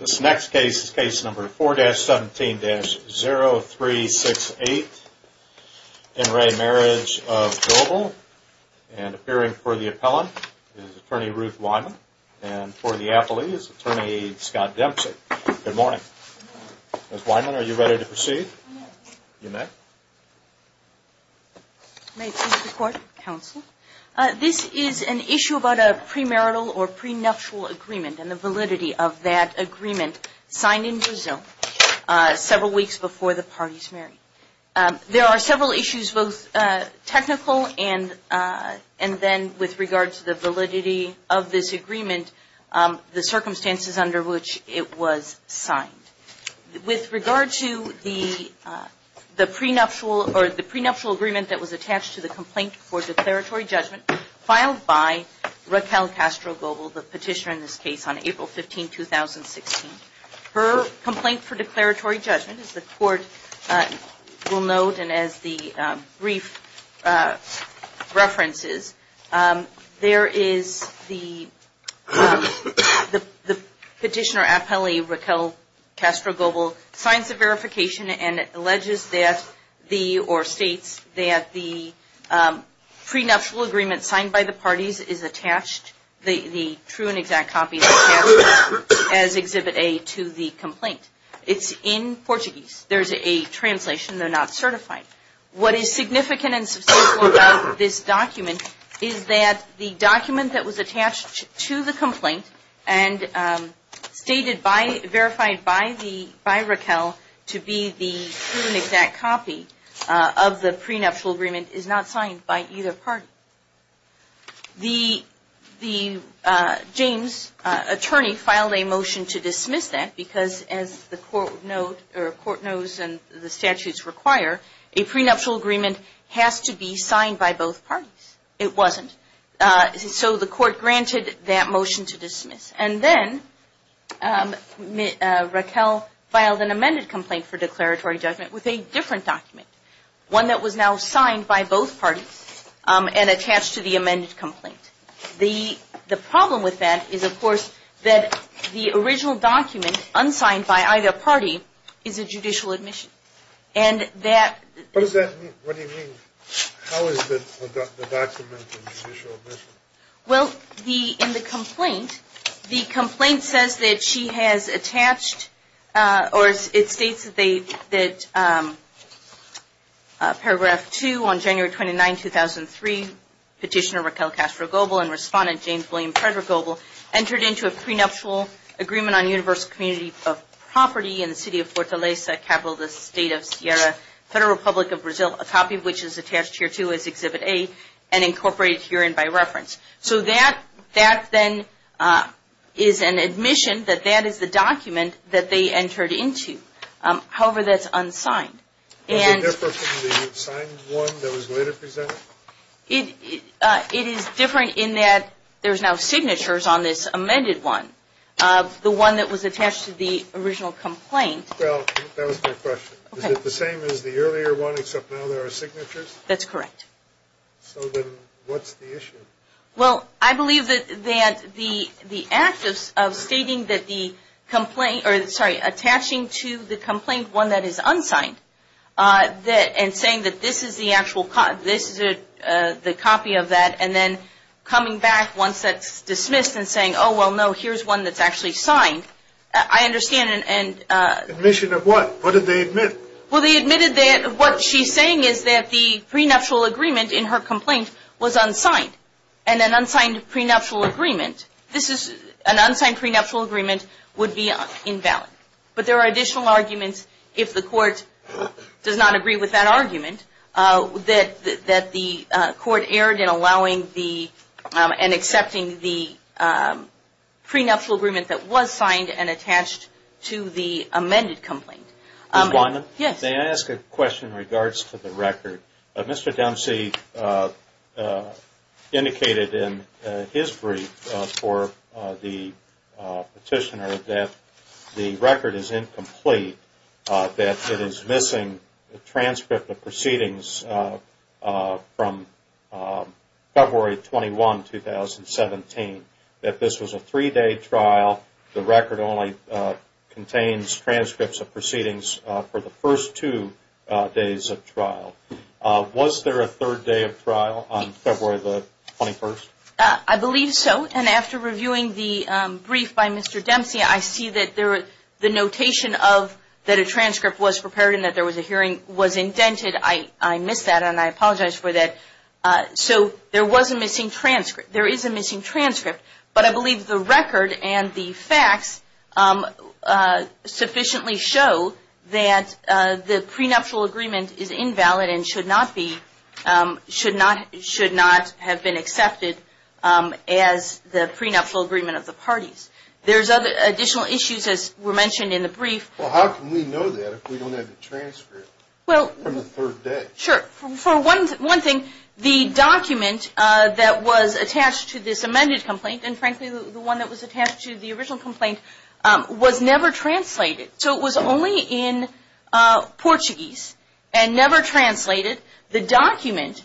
This next case is case number 4-17-0368. In re Marriage of Goebel. And appearing for the appellant is attorney Ruth Wyman. And for the appellee is attorney Scott Dempsey. Good morning. Good morning. Ms. Wyman, are you ready to proceed? I'm ready. You may. May it please the court, counsel. This is an issue about a premarital or prenuptial agreement and the validity of that agreement signed in Brazil several weeks before the party is married. There are several issues, both technical and then with regard to the validity of this agreement, the circumstances under which it was signed. With regard to the prenuptial agreement that was attached to the complaint for declaratory judgment filed by Raquel Castro Goebel, the petitioner in this case, on April 15, 2016. Her complaint for declaratory judgment, as the court will note and as the brief references, there is the petitioner appellee Raquel Castro Goebel signs the verification and alleges that or states that the prenuptial agreement signed by the parties is attached, the true and exact copy is attached as Exhibit A to the complaint. It's in Portuguese. There's a translation. They're not certified. What is significant and substantial about this document is that the document that was attached to the complaint and stated by, verified by Raquel to be the true and exact copy of the prenuptial agreement is not signed by either party. The James attorney filed a motion to dismiss that because as the court knows and the statutes require, a prenuptial agreement has to be signed by both parties. It wasn't. So the court granted that motion to dismiss. And then Raquel filed an amended complaint for declaratory judgment with a different document, one that was now signed by both parties and attached to the amended complaint. The problem with that is, of course, that the original document unsigned by either party is a judicial admission. And that... What does that mean? What do you mean? How is the document a judicial admission? Well, in the complaint, the complaint says that she has attached or it states that they, that Paragraph 2 on January 29, 2003, Petitioner Raquel Castro-Gobel and Respondent James William Frederick-Gobel entered into a prenuptial agreement on universal community of property in the city of Fortaleza, capital of the state of Sierra, Federal Republic of Brazil, a copy of which is attached here too as Exhibit A and incorporated herein by reference. So that then is an admission that that is the document that they entered into. However, that's unsigned. Is it different from the signed one that was later presented? It is different in that there's now signatures on this amended one. The one that was attached to the original complaint... Well, that was my question. Okay. Is it the same as the earlier one except now there are signatures? That's correct. So then what's the issue? Well, I believe that the act of stating that the complaint, or sorry, attaching to the complaint one that is unsigned and saying that this is the actual, this is the copy of that and then coming back once that's dismissed and saying, oh, well, no, here's one that's actually signed. I understand and... Admission of what? What did they admit? Well, they admitted that what she's saying is that the prenuptial agreement in her complaint was unsigned and an unsigned prenuptial agreement, this is, an unsigned prenuptial agreement would be invalid. But there are additional arguments if the court does not agree with that argument that the court erred in allowing and accepting the prenuptial agreement that was signed and attached to the amended complaint. Ms. Weinman? Yes. May I ask a question in regards to the record? Mr. Dempsey indicated in his brief for the petitioner that the record is incomplete, that it is missing a transcript of proceedings from February 21, 2017, that this was a three-day trial, the record only contains transcripts of proceedings for the first two days of trial. Was there a third day of trial on February the 21st? I believe so. And after reviewing the brief by Mr. Dempsey, I see that the notation of that a transcript was prepared and that there was a hearing was indented. I missed that and I apologize for that. So there was a missing transcript, there is a missing transcript. But I believe the record and the facts sufficiently show that the prenuptial agreement is invalid and should not have been accepted as the prenuptial agreement of the parties. There's additional issues, as were mentioned in the brief. Well, how can we know that if we don't have the transcript from the third day? Sure. For one thing, the document that was attached to this amended complaint, and frankly the one that was attached to the original complaint, was never translated. So it was only in Portuguese and never translated. The document,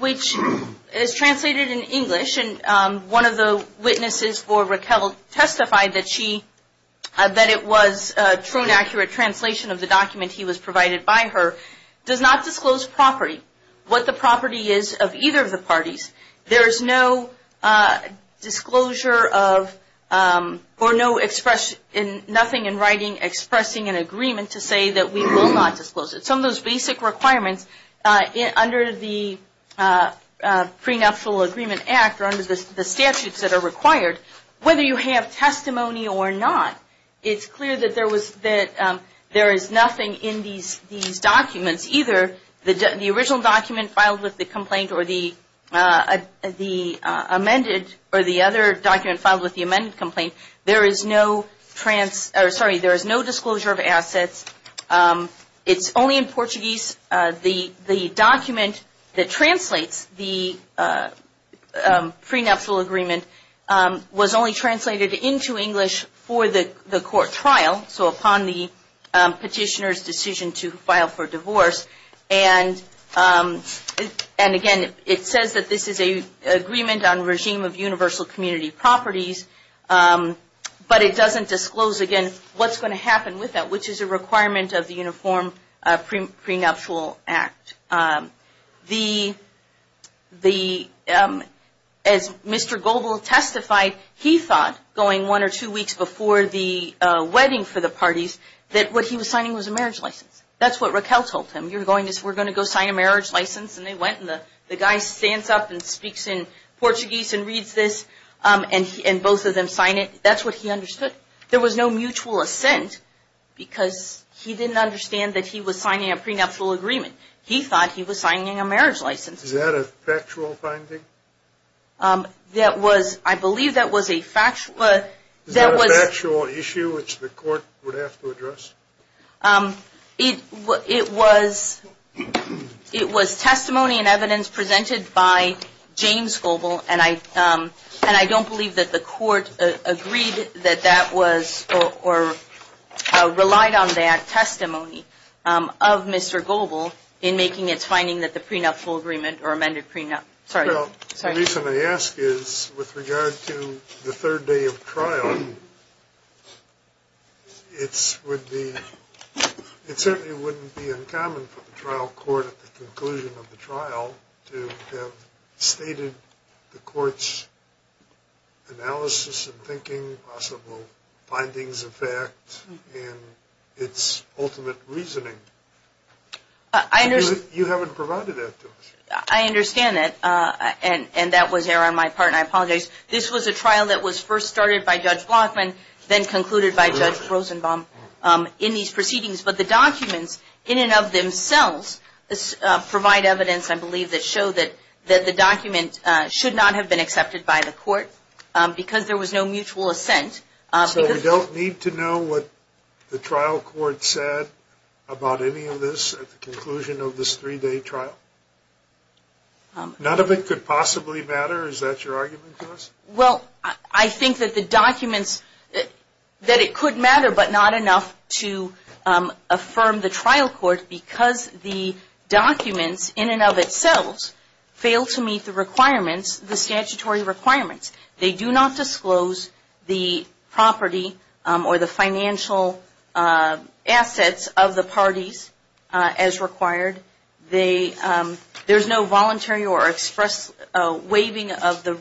which is translated in English, and one of the witnesses for Raquel testified that it was a true and accurate translation of the document he was provided by her, does not disclose property, what the property is of either of the parties. There is no disclosure or nothing in writing expressing an agreement to say that we will not disclose it. Some of those basic requirements under the Prenuptial Agreement Act or under the statutes that are required, whether you have testimony or not, it's clear that there is nothing in these documents, either the original document filed with the complaint or the amended, or the other document filed with the amended complaint. There is no disclosure of assets. It's only in Portuguese. The document that translates the prenuptial agreement was only translated into English for the court trial, so upon the petitioner's decision to file for divorce. And again, it says that this is an agreement on regime of universal community properties, but it doesn't disclose, again, what's going to happen with that, which is a requirement of the Uniform Prenuptial Act. As Mr. Goble testified, he thought, going one or two weeks before the wedding for the parties, that what he was signing was a marriage license. That's what Raquel told him. You're going to, we're going to go sign a marriage license, and they went, and the guy stands up and speaks in Portuguese and reads this, and both of them sign it. That's what he understood. There was no mutual assent, because he didn't understand that he was signing a prenuptial agreement. He thought he was signing a marriage license. Is that a factual finding? That was, I believe that was a factual, that was. It was testimony and evidence presented by James Goble, and I don't believe that the court agreed that that was or relied on that testimony of Mr. Goble in making its finding that the prenuptial agreement or amended prenup, sorry. Well, the reason I ask is with regard to the third day of trial, it would be, it certainly wouldn't be uncommon for the trial court at the conclusion of the trial to have stated the court's analysis and thinking, possible findings of fact, and its ultimate reasoning. I understand. You haven't provided that to us. I understand that, and that was error on my part, and I apologize. This was a trial that was first started by Judge Blockman, then concluded by Judge Rosenbaum, in these proceedings, but the documents in and of themselves provide evidence, I believe, that show that the document should not have been accepted by the court, because there was no mutual assent. So we don't need to know what the trial court said about any of this at the conclusion of this three-day trial? None of it could possibly matter? Is that your argument to us? Well, I think that the documents, that it could matter, but not enough to affirm the trial court, because the documents in and of themselves fail to meet the requirements, the statutory requirements. They do not disclose the property or the financial assets of the parties as required. There's no voluntary or express waiving of the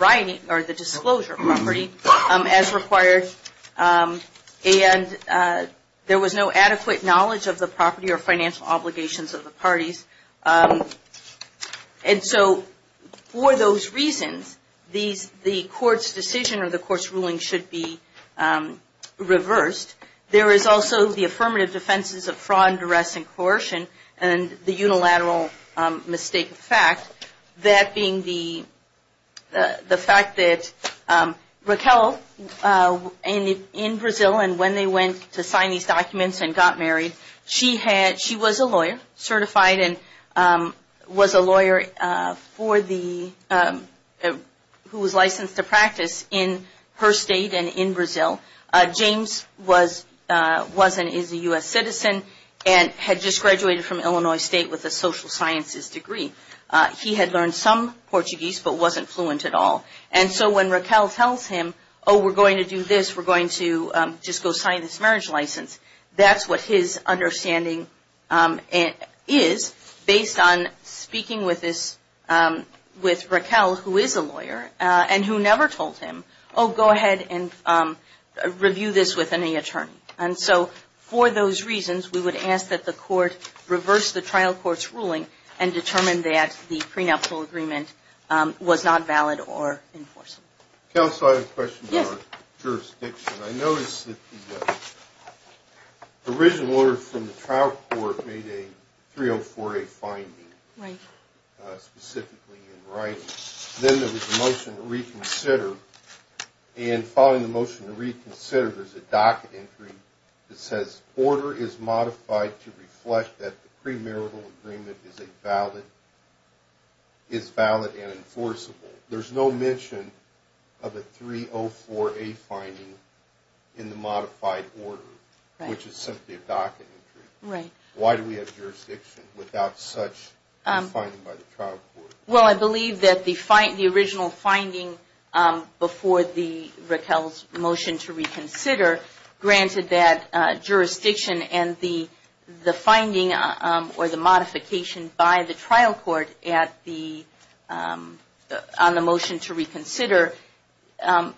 right or the disclosure property as required, and there was no adequate knowledge of the property or financial obligations of the parties. And so for those reasons, the court's decision or the court's ruling should be reversed. There is also the affirmative defenses of fraud, duress, and coercion, and the unilateral mistake of fact, that being the fact that Raquel, in Brazil, and when they went to sign these documents and got married, she was a lawyer, certified, and was a lawyer who was licensed to practice in her state and in Brazil. James was and is a U.S. citizen and had just graduated from Illinois State with a social sciences degree. He had learned some Portuguese but wasn't fluent at all. And so when Raquel tells him, oh, we're going to do this, we're going to just go sign this marriage license, that's what his understanding is based on speaking with Raquel, who is a lawyer, and who never told him, oh, go ahead and review this with any attorney. And so for those reasons, we would ask that the court reverse the trial court's ruling and determine that the prenuptial agreement was not valid or enforceable. Counsel, I have a question about jurisdiction. I noticed that the original order from the trial court made a 304A finding specifically in writing. Then there was a motion to reconsider, and following the motion to reconsider, there's a docket entry that says, order is modified to reflect that the premarital agreement is valid and enforceable. There's no mention of a 304A finding in the modified order, which is simply a docket entry. Why do we have jurisdiction without such a finding by the trial court? Well, I believe that the original finding before Raquel's motion to reconsider granted that jurisdiction and the finding or the modification by the trial court on the motion to reconsider,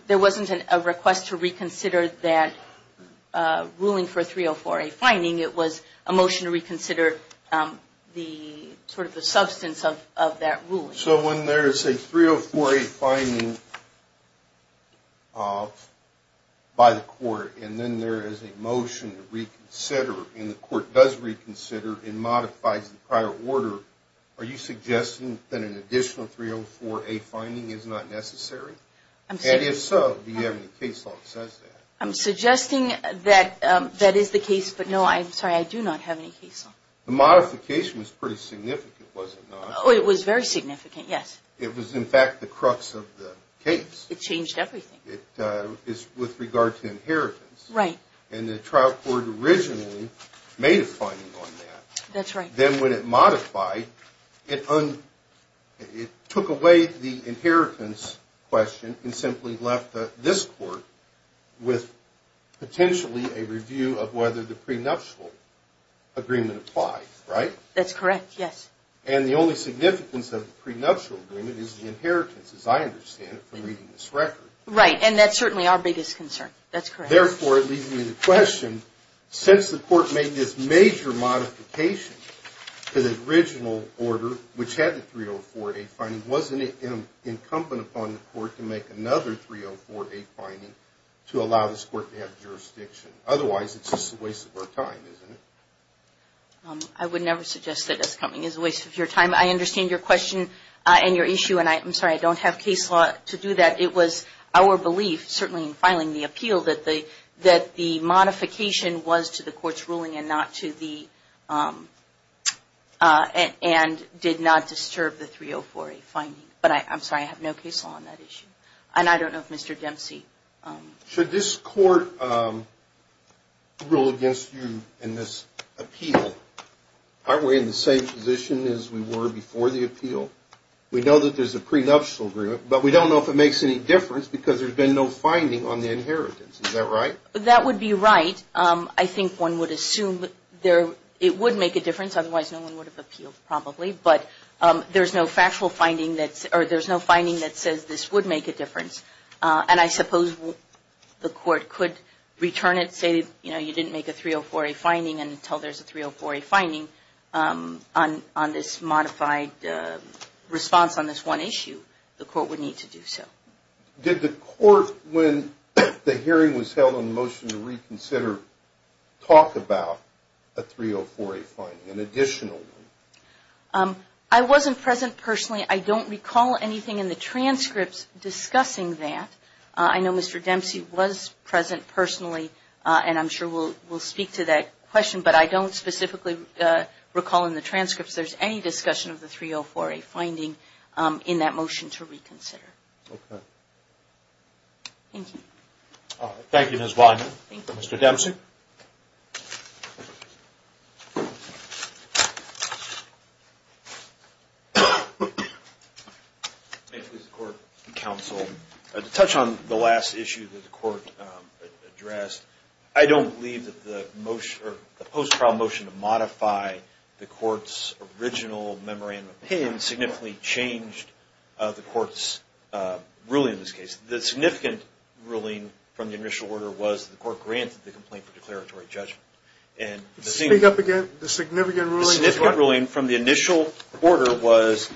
there wasn't a request to reconsider that ruling for a 304A finding. It was a motion to reconsider sort of the substance of that ruling. So when there's a 304A finding by the court, and then there is a motion to reconsider, and the court does reconsider and modifies the prior order, are you suggesting that an additional 304A finding is not necessary? And if so, do you have any case law that says that? I'm suggesting that that is the case, but no, I'm sorry, I do not have any case law. The modification was pretty significant, was it not? Oh, it was very significant, yes. It was, in fact, the crux of the case. It changed everything. With regard to inheritance. Right. And the trial court originally made a finding on that. That's right. Then when it modified, it took away the inheritance question and simply left this court with potentially a review of whether the prenuptial agreement applied, right? That's correct, yes. And the only significance of the prenuptial agreement is the inheritance, as I understand it, from reading this record. Right, and that's certainly our biggest concern. That's correct. Therefore, it leaves me the question, since the court made this major modification to the original order, which had the 304A finding, wasn't it incumbent upon the court to make another 304A finding to allow this court to have jurisdiction? Otherwise, it's just a waste of our time, isn't it? I would never suggest that it's coming. It's a waste of your time. I understand your question and your issue. And I'm sorry, I don't have case law to do that. It was our belief, certainly in filing the appeal, that the modification was to the court's ruling and did not disturb the 304A finding. But I'm sorry, I have no case law on that issue. And I don't know if Mr. Dempsey. Should this court rule against you in this appeal? Aren't we in the same position as we were before the appeal? We know that there's a prenuptial agreement, but we don't know if it makes any difference because there's been no finding on the inheritance. Is that right? That would be right. I think one would assume it would make a difference. Otherwise, no one would have appealed, probably. But there's no factual finding that says this would make a difference. And I suppose the court could return it, say, you know, you didn't make a 304A finding until there's a 304A finding on this modified response on this one issue. The court would need to do so. Did the court, when the hearing was held on the motion to reconsider, talk about a 304A finding, an additional one? I wasn't present personally. I don't recall anything in the transcripts discussing that. I know Mr. Dempsey was present personally, and I'm sure we'll speak to that question, but I don't specifically recall in the transcripts there's any discussion of the 304A finding in that motion to reconsider. Okay. Thank you. All right. Thank you, Ms. Wyman. Thank you. Mr. Dempsey. May it please the court and counsel, to touch on the last issue that the court addressed, I don't believe that the post-trial motion to modify the court's original memorandum of opinion significantly changed the court's ruling in this case. The significant ruling from the initial order was the court granted the complaint for declaratory judgment. Speak up again. The significant ruling was what? It was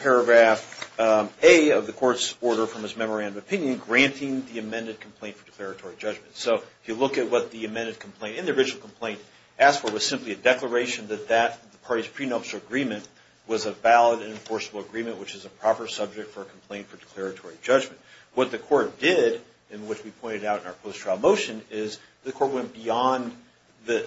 paragraph A of the court's order from its memorandum of opinion, granting the amended complaint for declaratory judgment. So if you look at what the amended complaint and the original complaint asked for, it was simply a declaration that that party's prenuptial agreement was a valid and enforceable agreement, which is a proper subject for a complaint for declaratory judgment. What the court did, and what we pointed out in our post-trial motion, is the court went beyond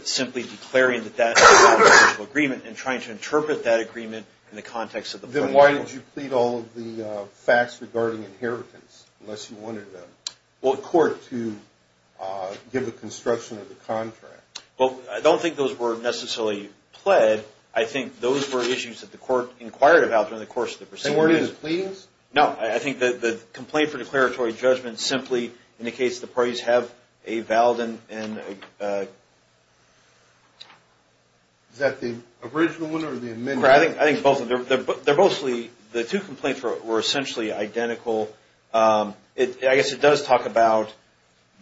simply declaring that that was a valid and enforceable agreement and trying to interpret that agreement in the context of the plaintiff. Then why did you plead all of the facts regarding inheritance, unless you wanted the court to give a construction of the contract? Well, I don't think those were necessarily pled. I think those were issues that the court inquired about during the course of the proceedings. They weren't in the pleadings? No. I think the complaint for declaratory judgment simply indicates the parties have a valid and a... Is that the original one or the amended one? I think both of them. The two complaints were essentially identical. I guess it does talk about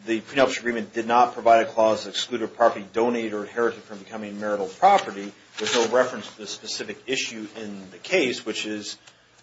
the prenuptial agreement did not provide a clause that excluded property donated or inherited from becoming marital property. There's no reference to the specific issue in the case, which is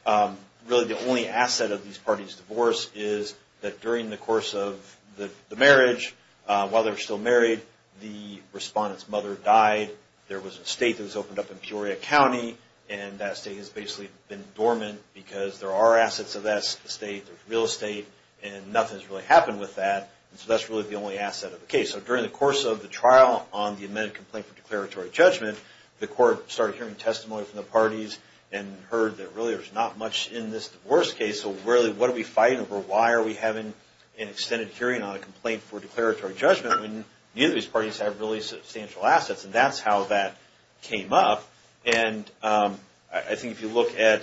really the only asset of these parties' divorce, is that during the course of the marriage, while they were still married, the respondent's mother died. There was an estate that was opened up in Peoria County, and that estate has basically been dormant because there are assets of that estate, real estate, and nothing's really happened with that. So that's really the only asset of the case. So during the course of the trial on the amended complaint for declaratory judgment, the court started hearing testimony from the parties and heard that really there's not much in this divorce case. So really, what are we fighting over? Why are we having an extended hearing on a complaint for declaratory judgment when neither of these parties have really substantial assets? And that's how that came up. And I think if you look at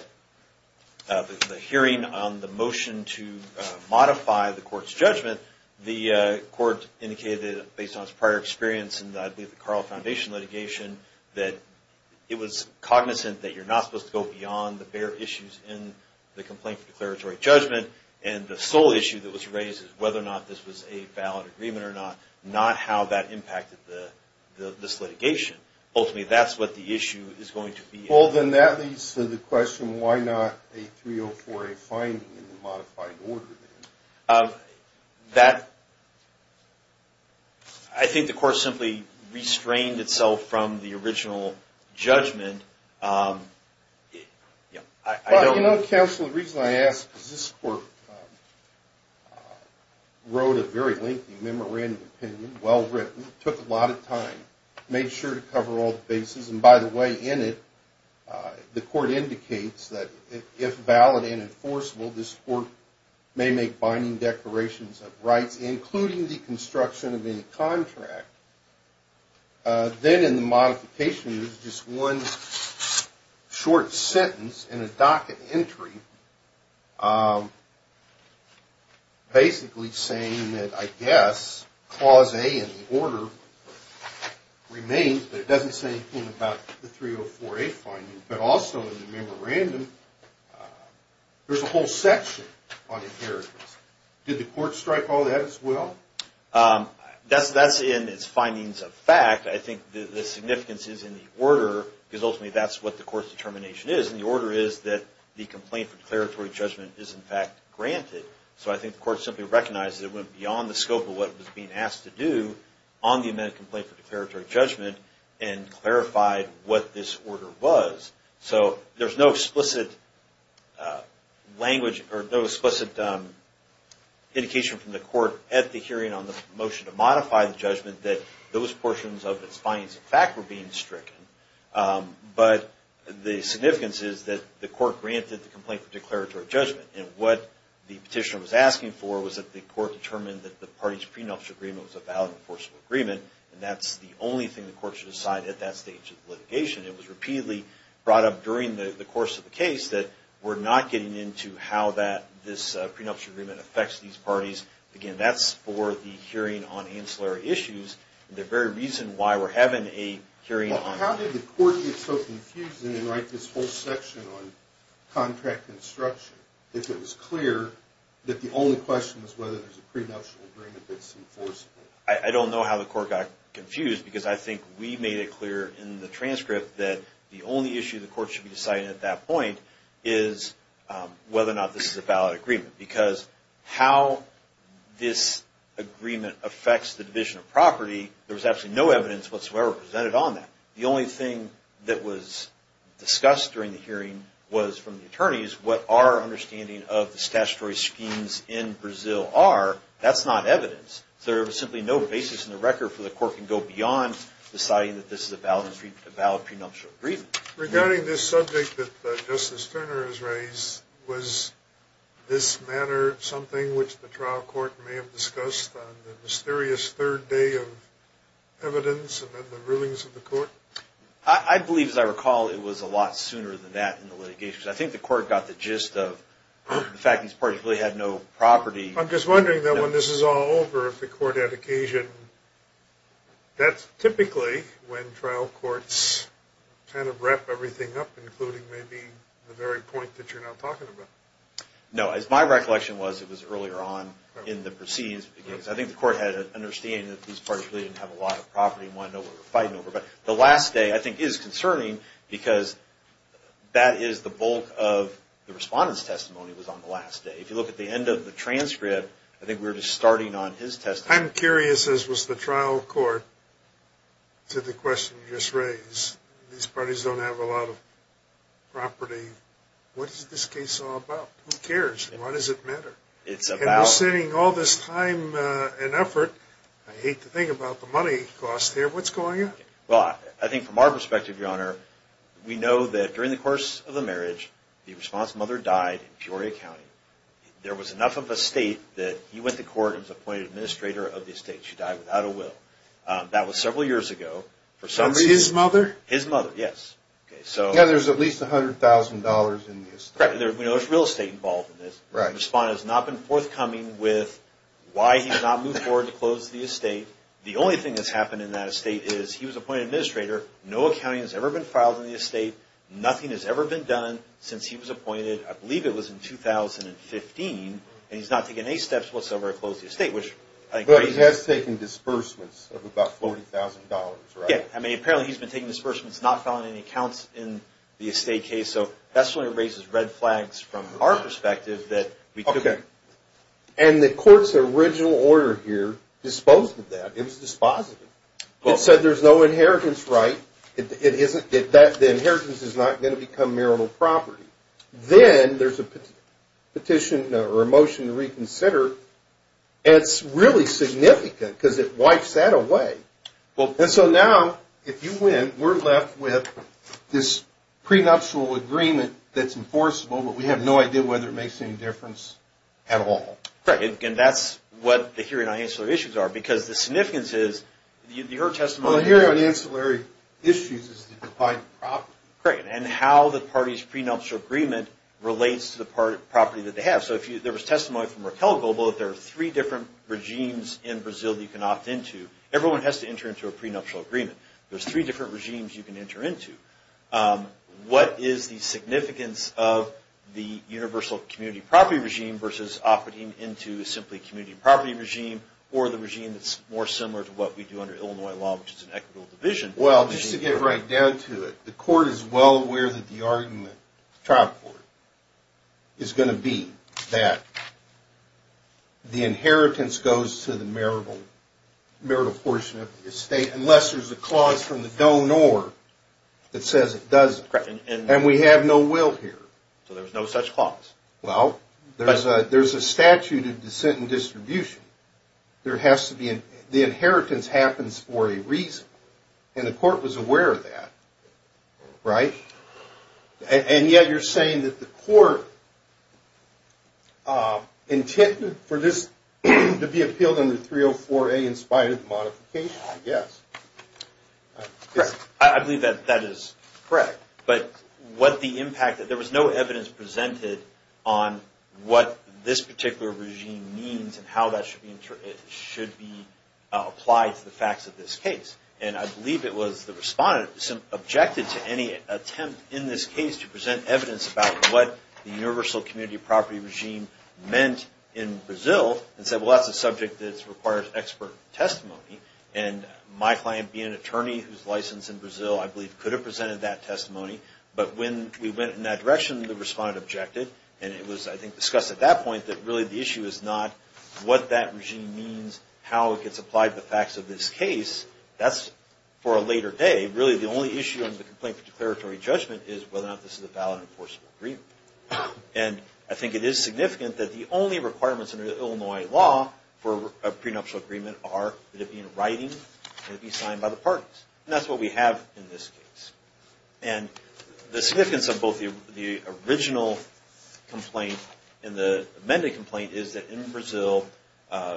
the hearing on the motion to modify the court's judgment, the court indicated based on its prior experience in the Carl Foundation litigation that it was cognizant that you're not supposed to go beyond the bare issues in the complaint for declaratory judgment, and the sole issue that was raised is whether or not this was a valid agreement or not, not how that impacted this litigation. Ultimately, that's what the issue is going to be. Well, then that leads to the question, why not a 304A finding in the modified order then? I think the court simply restrained itself from the original judgment. You know, counsel, the reason I ask is this court wrote a very lengthy memorandum of opinion, well-written, took a lot of time, made sure to cover all the bases. And by the way, in it, the court indicates that if valid and enforceable, this court may make binding declarations of rights, including the construction of any contract. Then in the modification, there's just one short sentence in a docket entry, basically saying that, I guess, Clause A in the order remains, but it doesn't say anything about the 304A finding. But also in the memorandum, there's a whole section on inheritance. Did the court strike all that as well? That's in its findings of fact. I think the significance is in the order, because ultimately that's what the court's determination is. What it says in the order is that the complaint for declaratory judgment is, in fact, granted. So I think the court simply recognizes it went beyond the scope of what it was being asked to do on the amended complaint for declaratory judgment and clarified what this order was. So there's no explicit indication from the court at the hearing on the motion to modify the judgment that those portions of its findings of fact were being stricken. But the significance is that the court granted the complaint for declaratory judgment. And what the petitioner was asking for was that the court determine that the party's prenuptial agreement was a valid enforceable agreement, and that's the only thing the court should decide at that stage of litigation. It was repeatedly brought up during the course of the case that we're not getting into how this prenuptial agreement affects these parties. Again, that's for the hearing on ancillary issues. The very reason why we're having a hearing on... Well, how did the court get so confused and then write this whole section on contract construction if it was clear that the only question was whether there's a prenuptial agreement that's enforceable? I don't know how the court got confused because I think we made it clear in the transcript that the only issue the court should be deciding at that point is whether or not this is a valid agreement. Because how this agreement affects the division of property, there was absolutely no evidence whatsoever presented on that. The only thing that was discussed during the hearing was from the attorneys what our understanding of the statutory schemes in Brazil are. That's not evidence. So there was simply no basis in the record for the court to go beyond deciding that this is a valid prenuptial agreement. Regarding this subject that Justice Turner has raised, was this matter something which the trial court may have discussed on the mysterious third day of evidence and then the rulings of the court? I believe, as I recall, it was a lot sooner than that in the litigation. I think the court got the gist of the fact these parties really had no property. I'm just wondering, though, when this is all over, if the court had occasion... That's typically when trial courts kind of wrap everything up, including maybe the very point that you're now talking about. No. As my recollection was, it was earlier on in the proceedings. I think the court had an understanding that these parties really didn't have a lot of property and wanted to know what we were fighting over. But the last day, I think, is concerning because that is the bulk of the respondent's testimony was on the last day. If you look at the end of the transcript, I think we were just starting on his testimony. I'm curious, as was the trial court, to the question you just raised. These parties don't have a lot of property. What is this case all about? Who cares? Why does it matter? It's about... And we're spending all this time and effort. I hate to think about the money cost here. What's going on? Well, I think from our perspective, Your Honor, we know that during the course of the marriage, the respondent's mother died in Peoria County. There was enough of a state that he went to court and was appointed administrator of the estate. She died without a will. That was several years ago. For some reason... His mother? His mother, yes. Yeah, there's at least $100,000 in the estate. Correct. We know there's real estate involved in this. The respondent has not been forthcoming with why he's not moved forward to close the estate. The only thing that's happened in that estate is he was appointed administrator. No accounting has ever been filed in the estate. Nothing has ever been done since he was appointed. I believe it was in 2015, and he's not taken any steps whatsoever to close the estate, which I think... But he has taken disbursements of about $40,000, right? Yeah. I mean, apparently he's been taking disbursements, not filing any accounts in the estate case. So that's one of the reasons red flags from our perspective that we took... Okay. And the court's original order here disposed of that. It was dispositive. It said there's no inheritance right. The inheritance is not going to become marital property. Then there's a petition or a motion to reconsider, and it's really significant because it wipes that away. And so now, if you win, we're left with this prenuptial agreement that's enforceable, but we have no idea whether it makes any difference at all. Right. And that's what the hearing on ancillary issues are because the significance is your testimony... Well, the hearing on ancillary issues is to divide the property. Great. And how the party's prenuptial agreement relates to the property that they have. So there was testimony from Raquel Gobel that there are three different regimes in Brazil that you can opt into. Everyone has to enter into a prenuptial agreement. There's three different regimes you can enter into. What is the significance of the universal community property regime versus opting into simply community property regime or the regime that's more similar to what we do under Illinois law, which is an equitable division? Well, just to get right down to it, the court is well aware that the argument, the trial court, is going to be that the inheritance goes to the marital portion of the estate unless there's a clause from the donor that says it doesn't. And we have no will here. So there's no such clause. Well, there's a statute of dissent and distribution. The inheritance happens for a reason. And the court was aware of that. Right? And yet you're saying that the court intended for this to be appealed under 304A in spite of the modification, I guess. Correct. I believe that that is correct. But what the impact, there was no evidence presented on what this particular regime means and how that should be applied to the facts of this case. And I believe it was the respondent objected to any attempt in this case to present evidence about what the universal community property regime meant in Brazil and said, well, that's a subject that requires expert testimony. And my client being an attorney who's licensed in Brazil, I believe, could have presented that testimony. But when we went in that direction, the respondent objected. And it was, I think, discussed at that point that really the issue is not what that regime means, how it gets applied to the facts of this case. That's for a later day. Really, the only issue in the complaint for declaratory judgment is whether or not this is a valid enforceable agreement. And I think it is significant that the only requirements under Illinois law for a prenuptial agreement are that it be in writing, that it be signed by the parties. And that's what we have in this case. And the significance of both the original complaint and the amended complaint is that in Brazil, the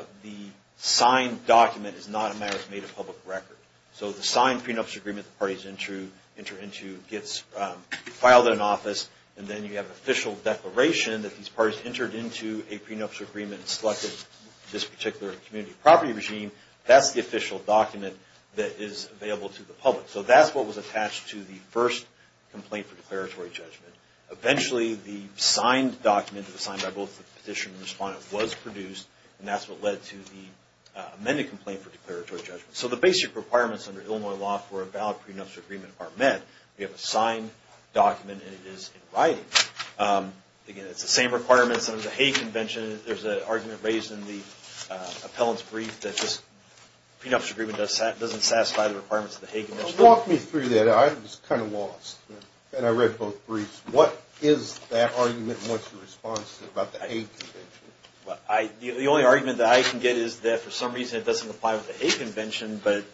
signed document is not a matter that's made a public record. So the signed prenuptial agreement the parties enter into gets filed in office, and then you have an official declaration that these parties entered into a prenuptial agreement and selected this particular community property regime. That's the official document that is available to the public. So that's what was attached to the first complaint for declaratory judgment. Eventually, the signed document that was signed by both the petitioner and the respondent was produced, and that's what led to the amended complaint for declaratory judgment. So the basic requirements under Illinois law for a valid prenuptial agreement are met. We have a signed document, and it is in writing. Again, it's the same requirements under the Hague Convention. There's an argument raised in the appellant's brief that this prenuptial agreement doesn't satisfy the requirements of the Hague Convention. Walk me through that. I was kind of lost, and I read both briefs. What is that argument, and what's your response about the Hague Convention? The only argument that I can get is that for some reason it doesn't apply with the Hague Convention, but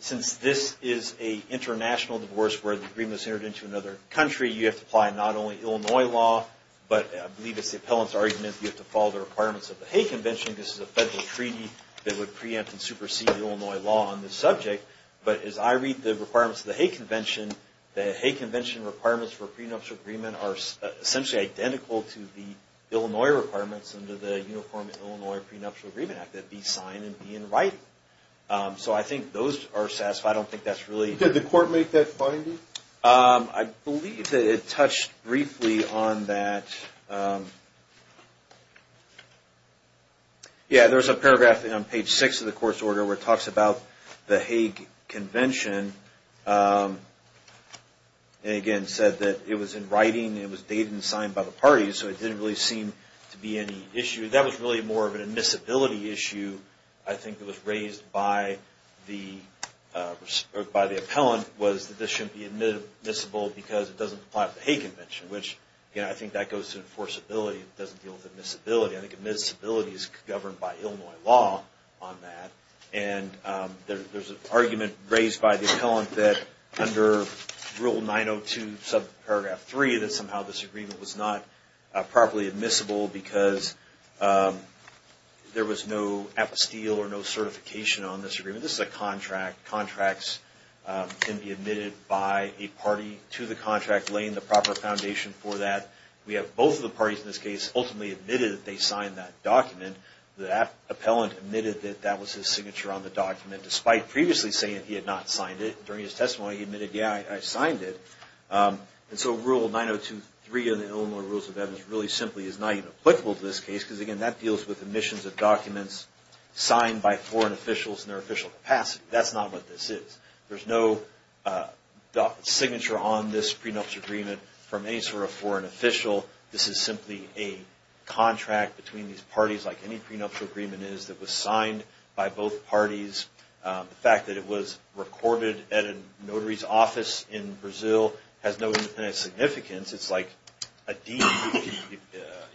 since this is an international divorce where the agreement was entered into another country, you have to apply not only Illinois law, but I believe it's the appellant's argument that you have to follow the requirements of the Hague Convention. This is a federal treaty that would preempt and supersede Illinois law on this subject. But as I read the requirements of the Hague Convention, the Hague Convention requirements for prenuptial agreement are essentially identical to the Illinois requirements under the Uniform Illinois Prenuptial Agreement Act that be signed and be in writing. So I think those are satisfied. I don't think that's really… Did the court make that finding? I believe that it touched briefly on that. Yeah, there's a paragraph on page 6 of the court's order where it talks about the Hague Convention, and again said that it was in writing, it was dated and signed by the parties, so it didn't really seem to be any issue. That was really more of an admissibility issue I think that was raised by the appellant, was that this shouldn't be admissible because it doesn't apply with the Hague Convention, which, again, I think that goes to enforceability. It doesn't deal with admissibility. I think admissibility is governed by Illinois law on that, and there's an argument raised by the appellant that under Rule 902, subparagraph 3, that somehow this agreement was not properly admissible because there was no apostille This is a contract. Contracts can be admitted by a party to the contract, laying the proper foundation for that. We have both of the parties in this case ultimately admitted that they signed that document. The appellant admitted that that was his signature on the document, despite previously saying that he had not signed it. During his testimony, he admitted, yeah, I signed it. And so Rule 902.3 of the Illinois Rules of Evidence really simply is not even applicable to this case because, again, that deals with omissions of documents signed by foreign officials in their official capacity. That's not what this is. There's no signature on this prenuptial agreement from any sort of foreign official. This is simply a contract between these parties like any prenuptial agreement is that was signed by both parties. The fact that it was recorded at a notary's office in Brazil has no independent significance. It's like a deed.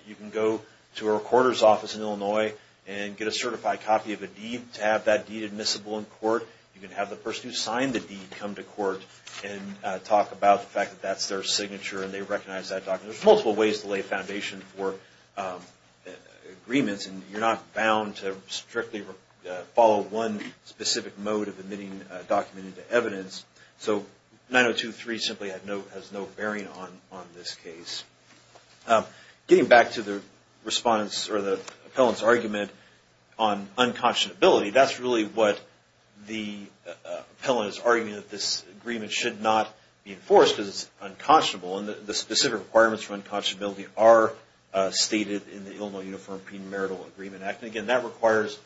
You can go to a recorder's office in Illinois and get a certified copy of a deed to have that deed admissible in court. You can have the person who signed the deed come to court and talk about the fact that that's their signature and they recognize that document. There's multiple ways to lay a foundation for agreements, and you're not bound to strictly follow one specific mode of admitting a document into evidence. So 902.3 simply has no bearing on this case. Getting back to the response or the appellant's argument on unconscionability, that's really what the appellant is arguing that this agreement should not be enforced because it's unconscionable, and the specific requirements for unconscionability are stated in the Illinois Uniform Prenuptial Agreement Act. And, again, that requires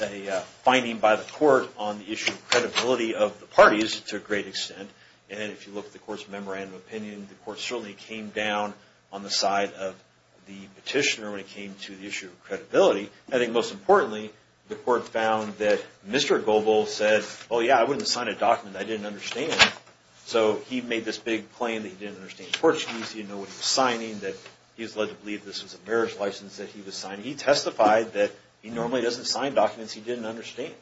a finding by the court on the issue of credibility of the parties to a great extent. And if you look at the court's memorandum of opinion, the court certainly came down on the side of the petitioner when it came to the issue of credibility. I think most importantly, the court found that Mr. Goebel said, oh, yeah, I wouldn't sign a document I didn't understand. So he made this big claim that he didn't understand fortunes, he didn't know what he was signing, that he was led to believe this was a marriage license that he was signing. He testified that he normally doesn't sign documents he didn't understand.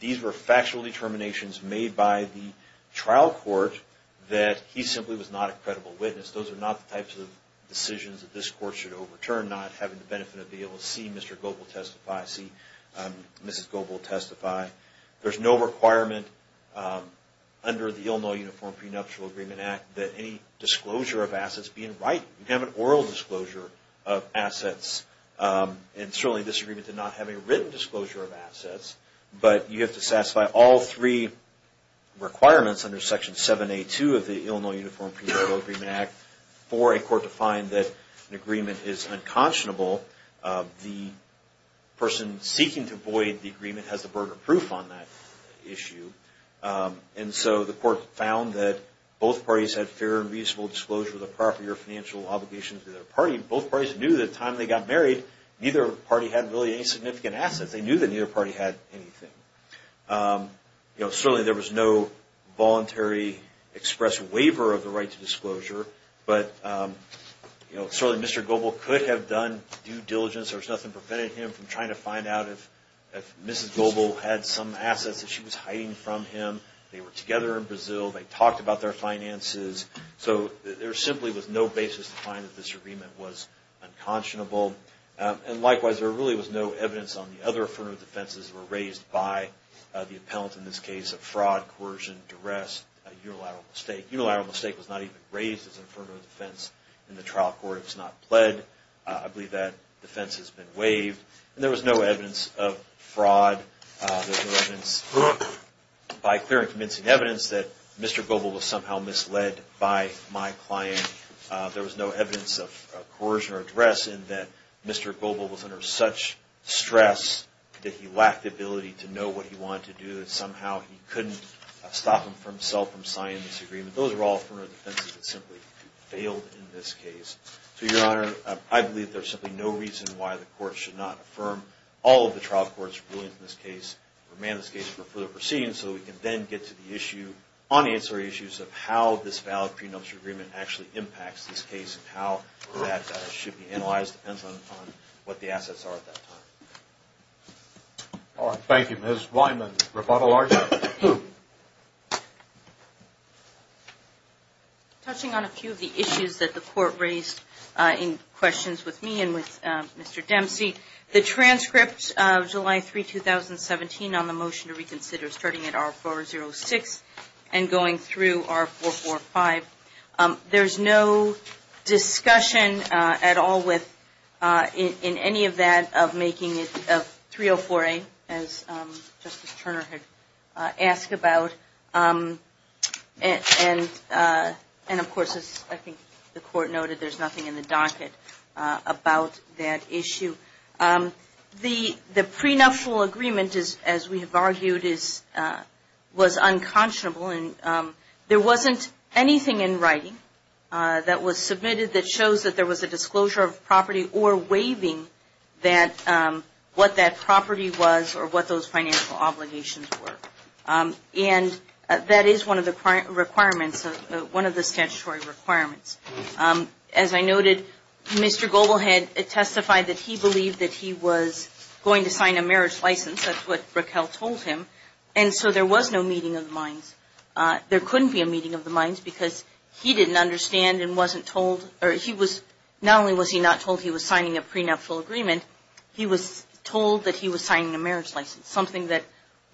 These were factual determinations made by the trial court that he simply was not a credible witness. Those are not the types of decisions that this court should overturn, not having the benefit of being able to see Mr. Goebel testify, see Mrs. Goebel testify. There's no requirement under the Illinois Uniform Prenuptial Agreement Act that any disclosure of assets be in writing. You can have an oral disclosure of assets, and certainly this agreement did not have a written disclosure of assets, but you have to satisfy all three requirements under Section 7A2 of the Illinois Uniform Prenuptial Agreement Act for a court to find that an agreement is unconscionable. The person seeking to void the agreement has the burden of proof on that issue. And so the court found that both parties had fair and reasonable disclosure of the property or financial obligations to their party. Both parties knew that by the time they got married, neither party had really any significant assets. They knew that neither party had anything. Certainly there was no voluntary express waiver of the right to disclosure, but certainly Mr. Goebel could have done due diligence. There was nothing preventing him from trying to find out if Mrs. Goebel had some assets that she was hiding from him. They were together in Brazil. They talked about their finances. So there simply was no basis to find that this agreement was unconscionable. And likewise, there really was no evidence on the other affirmative defenses that were raised by the appellant, in this case of fraud, coercion, duress, unilateral mistake. Unilateral mistake was not even raised as an affirmative defense in the trial court. It was not pled. I believe that defense has been waived. And there was no evidence of fraud. There was no evidence by clear and convincing evidence that Mr. Goebel was somehow misled by my client. There was no evidence of coercion or duress in that Mr. Goebel was under such stress that he lacked the ability to know what he wanted to do. Somehow he couldn't stop himself from signing this agreement. Those are all affirmative defenses that simply failed in this case. So, Your Honor, I believe there's simply no reason why the court should not affirm all of the trial court's rulings in this case or amend this case for further proceedings so we can then get to the issue, unanswered issues of how this valid prenuptial agreement actually impacts this case and how that should be analyzed depends on what the assets are at that time. All right. Thank you. Touching on a few of the issues that the court raised in questions with me and with Mr. Dempsey, the transcript of July 3, 2017 on the motion to reconsider starting at R406 and going through R445, there's no discussion at all in any of that of making it 304A, as Justice Turner had asked about, and, of course, as I think the court noted, there's nothing in the docket about that issue. The prenuptial agreement, as we have argued, was unconscionable, and there wasn't anything in writing that was submitted that shows that there was a disclosure of property or waiving what that property was or what those financial obligations were. And that is one of the requirements, one of the statutory requirements. As I noted, Mr. Goble had testified that he believed that he was going to sign a marriage license. That's what Raquel told him. And so there was no meeting of the minds. There couldn't be a meeting of the minds because he didn't understand and wasn't told. Not only was he not told he was signing a prenuptial agreement, he was told that he was signing a marriage license, something that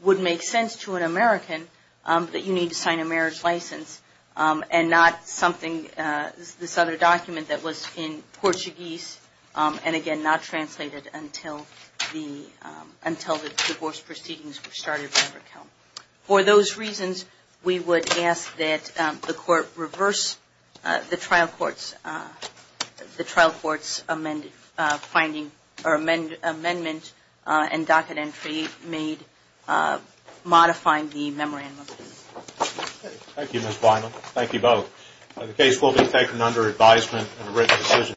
would make sense to an American that you need to sign a marriage license and not something, this other document that was in Portuguese and, again, not translated until the divorce proceedings were started by Raquel. For those reasons, we would ask that the court reverse the trial court's amendment and docket entry made modifying the memorandum. Thank you, Ms. Bynum. Thank you both. The case will be taken under advisement and a written decision.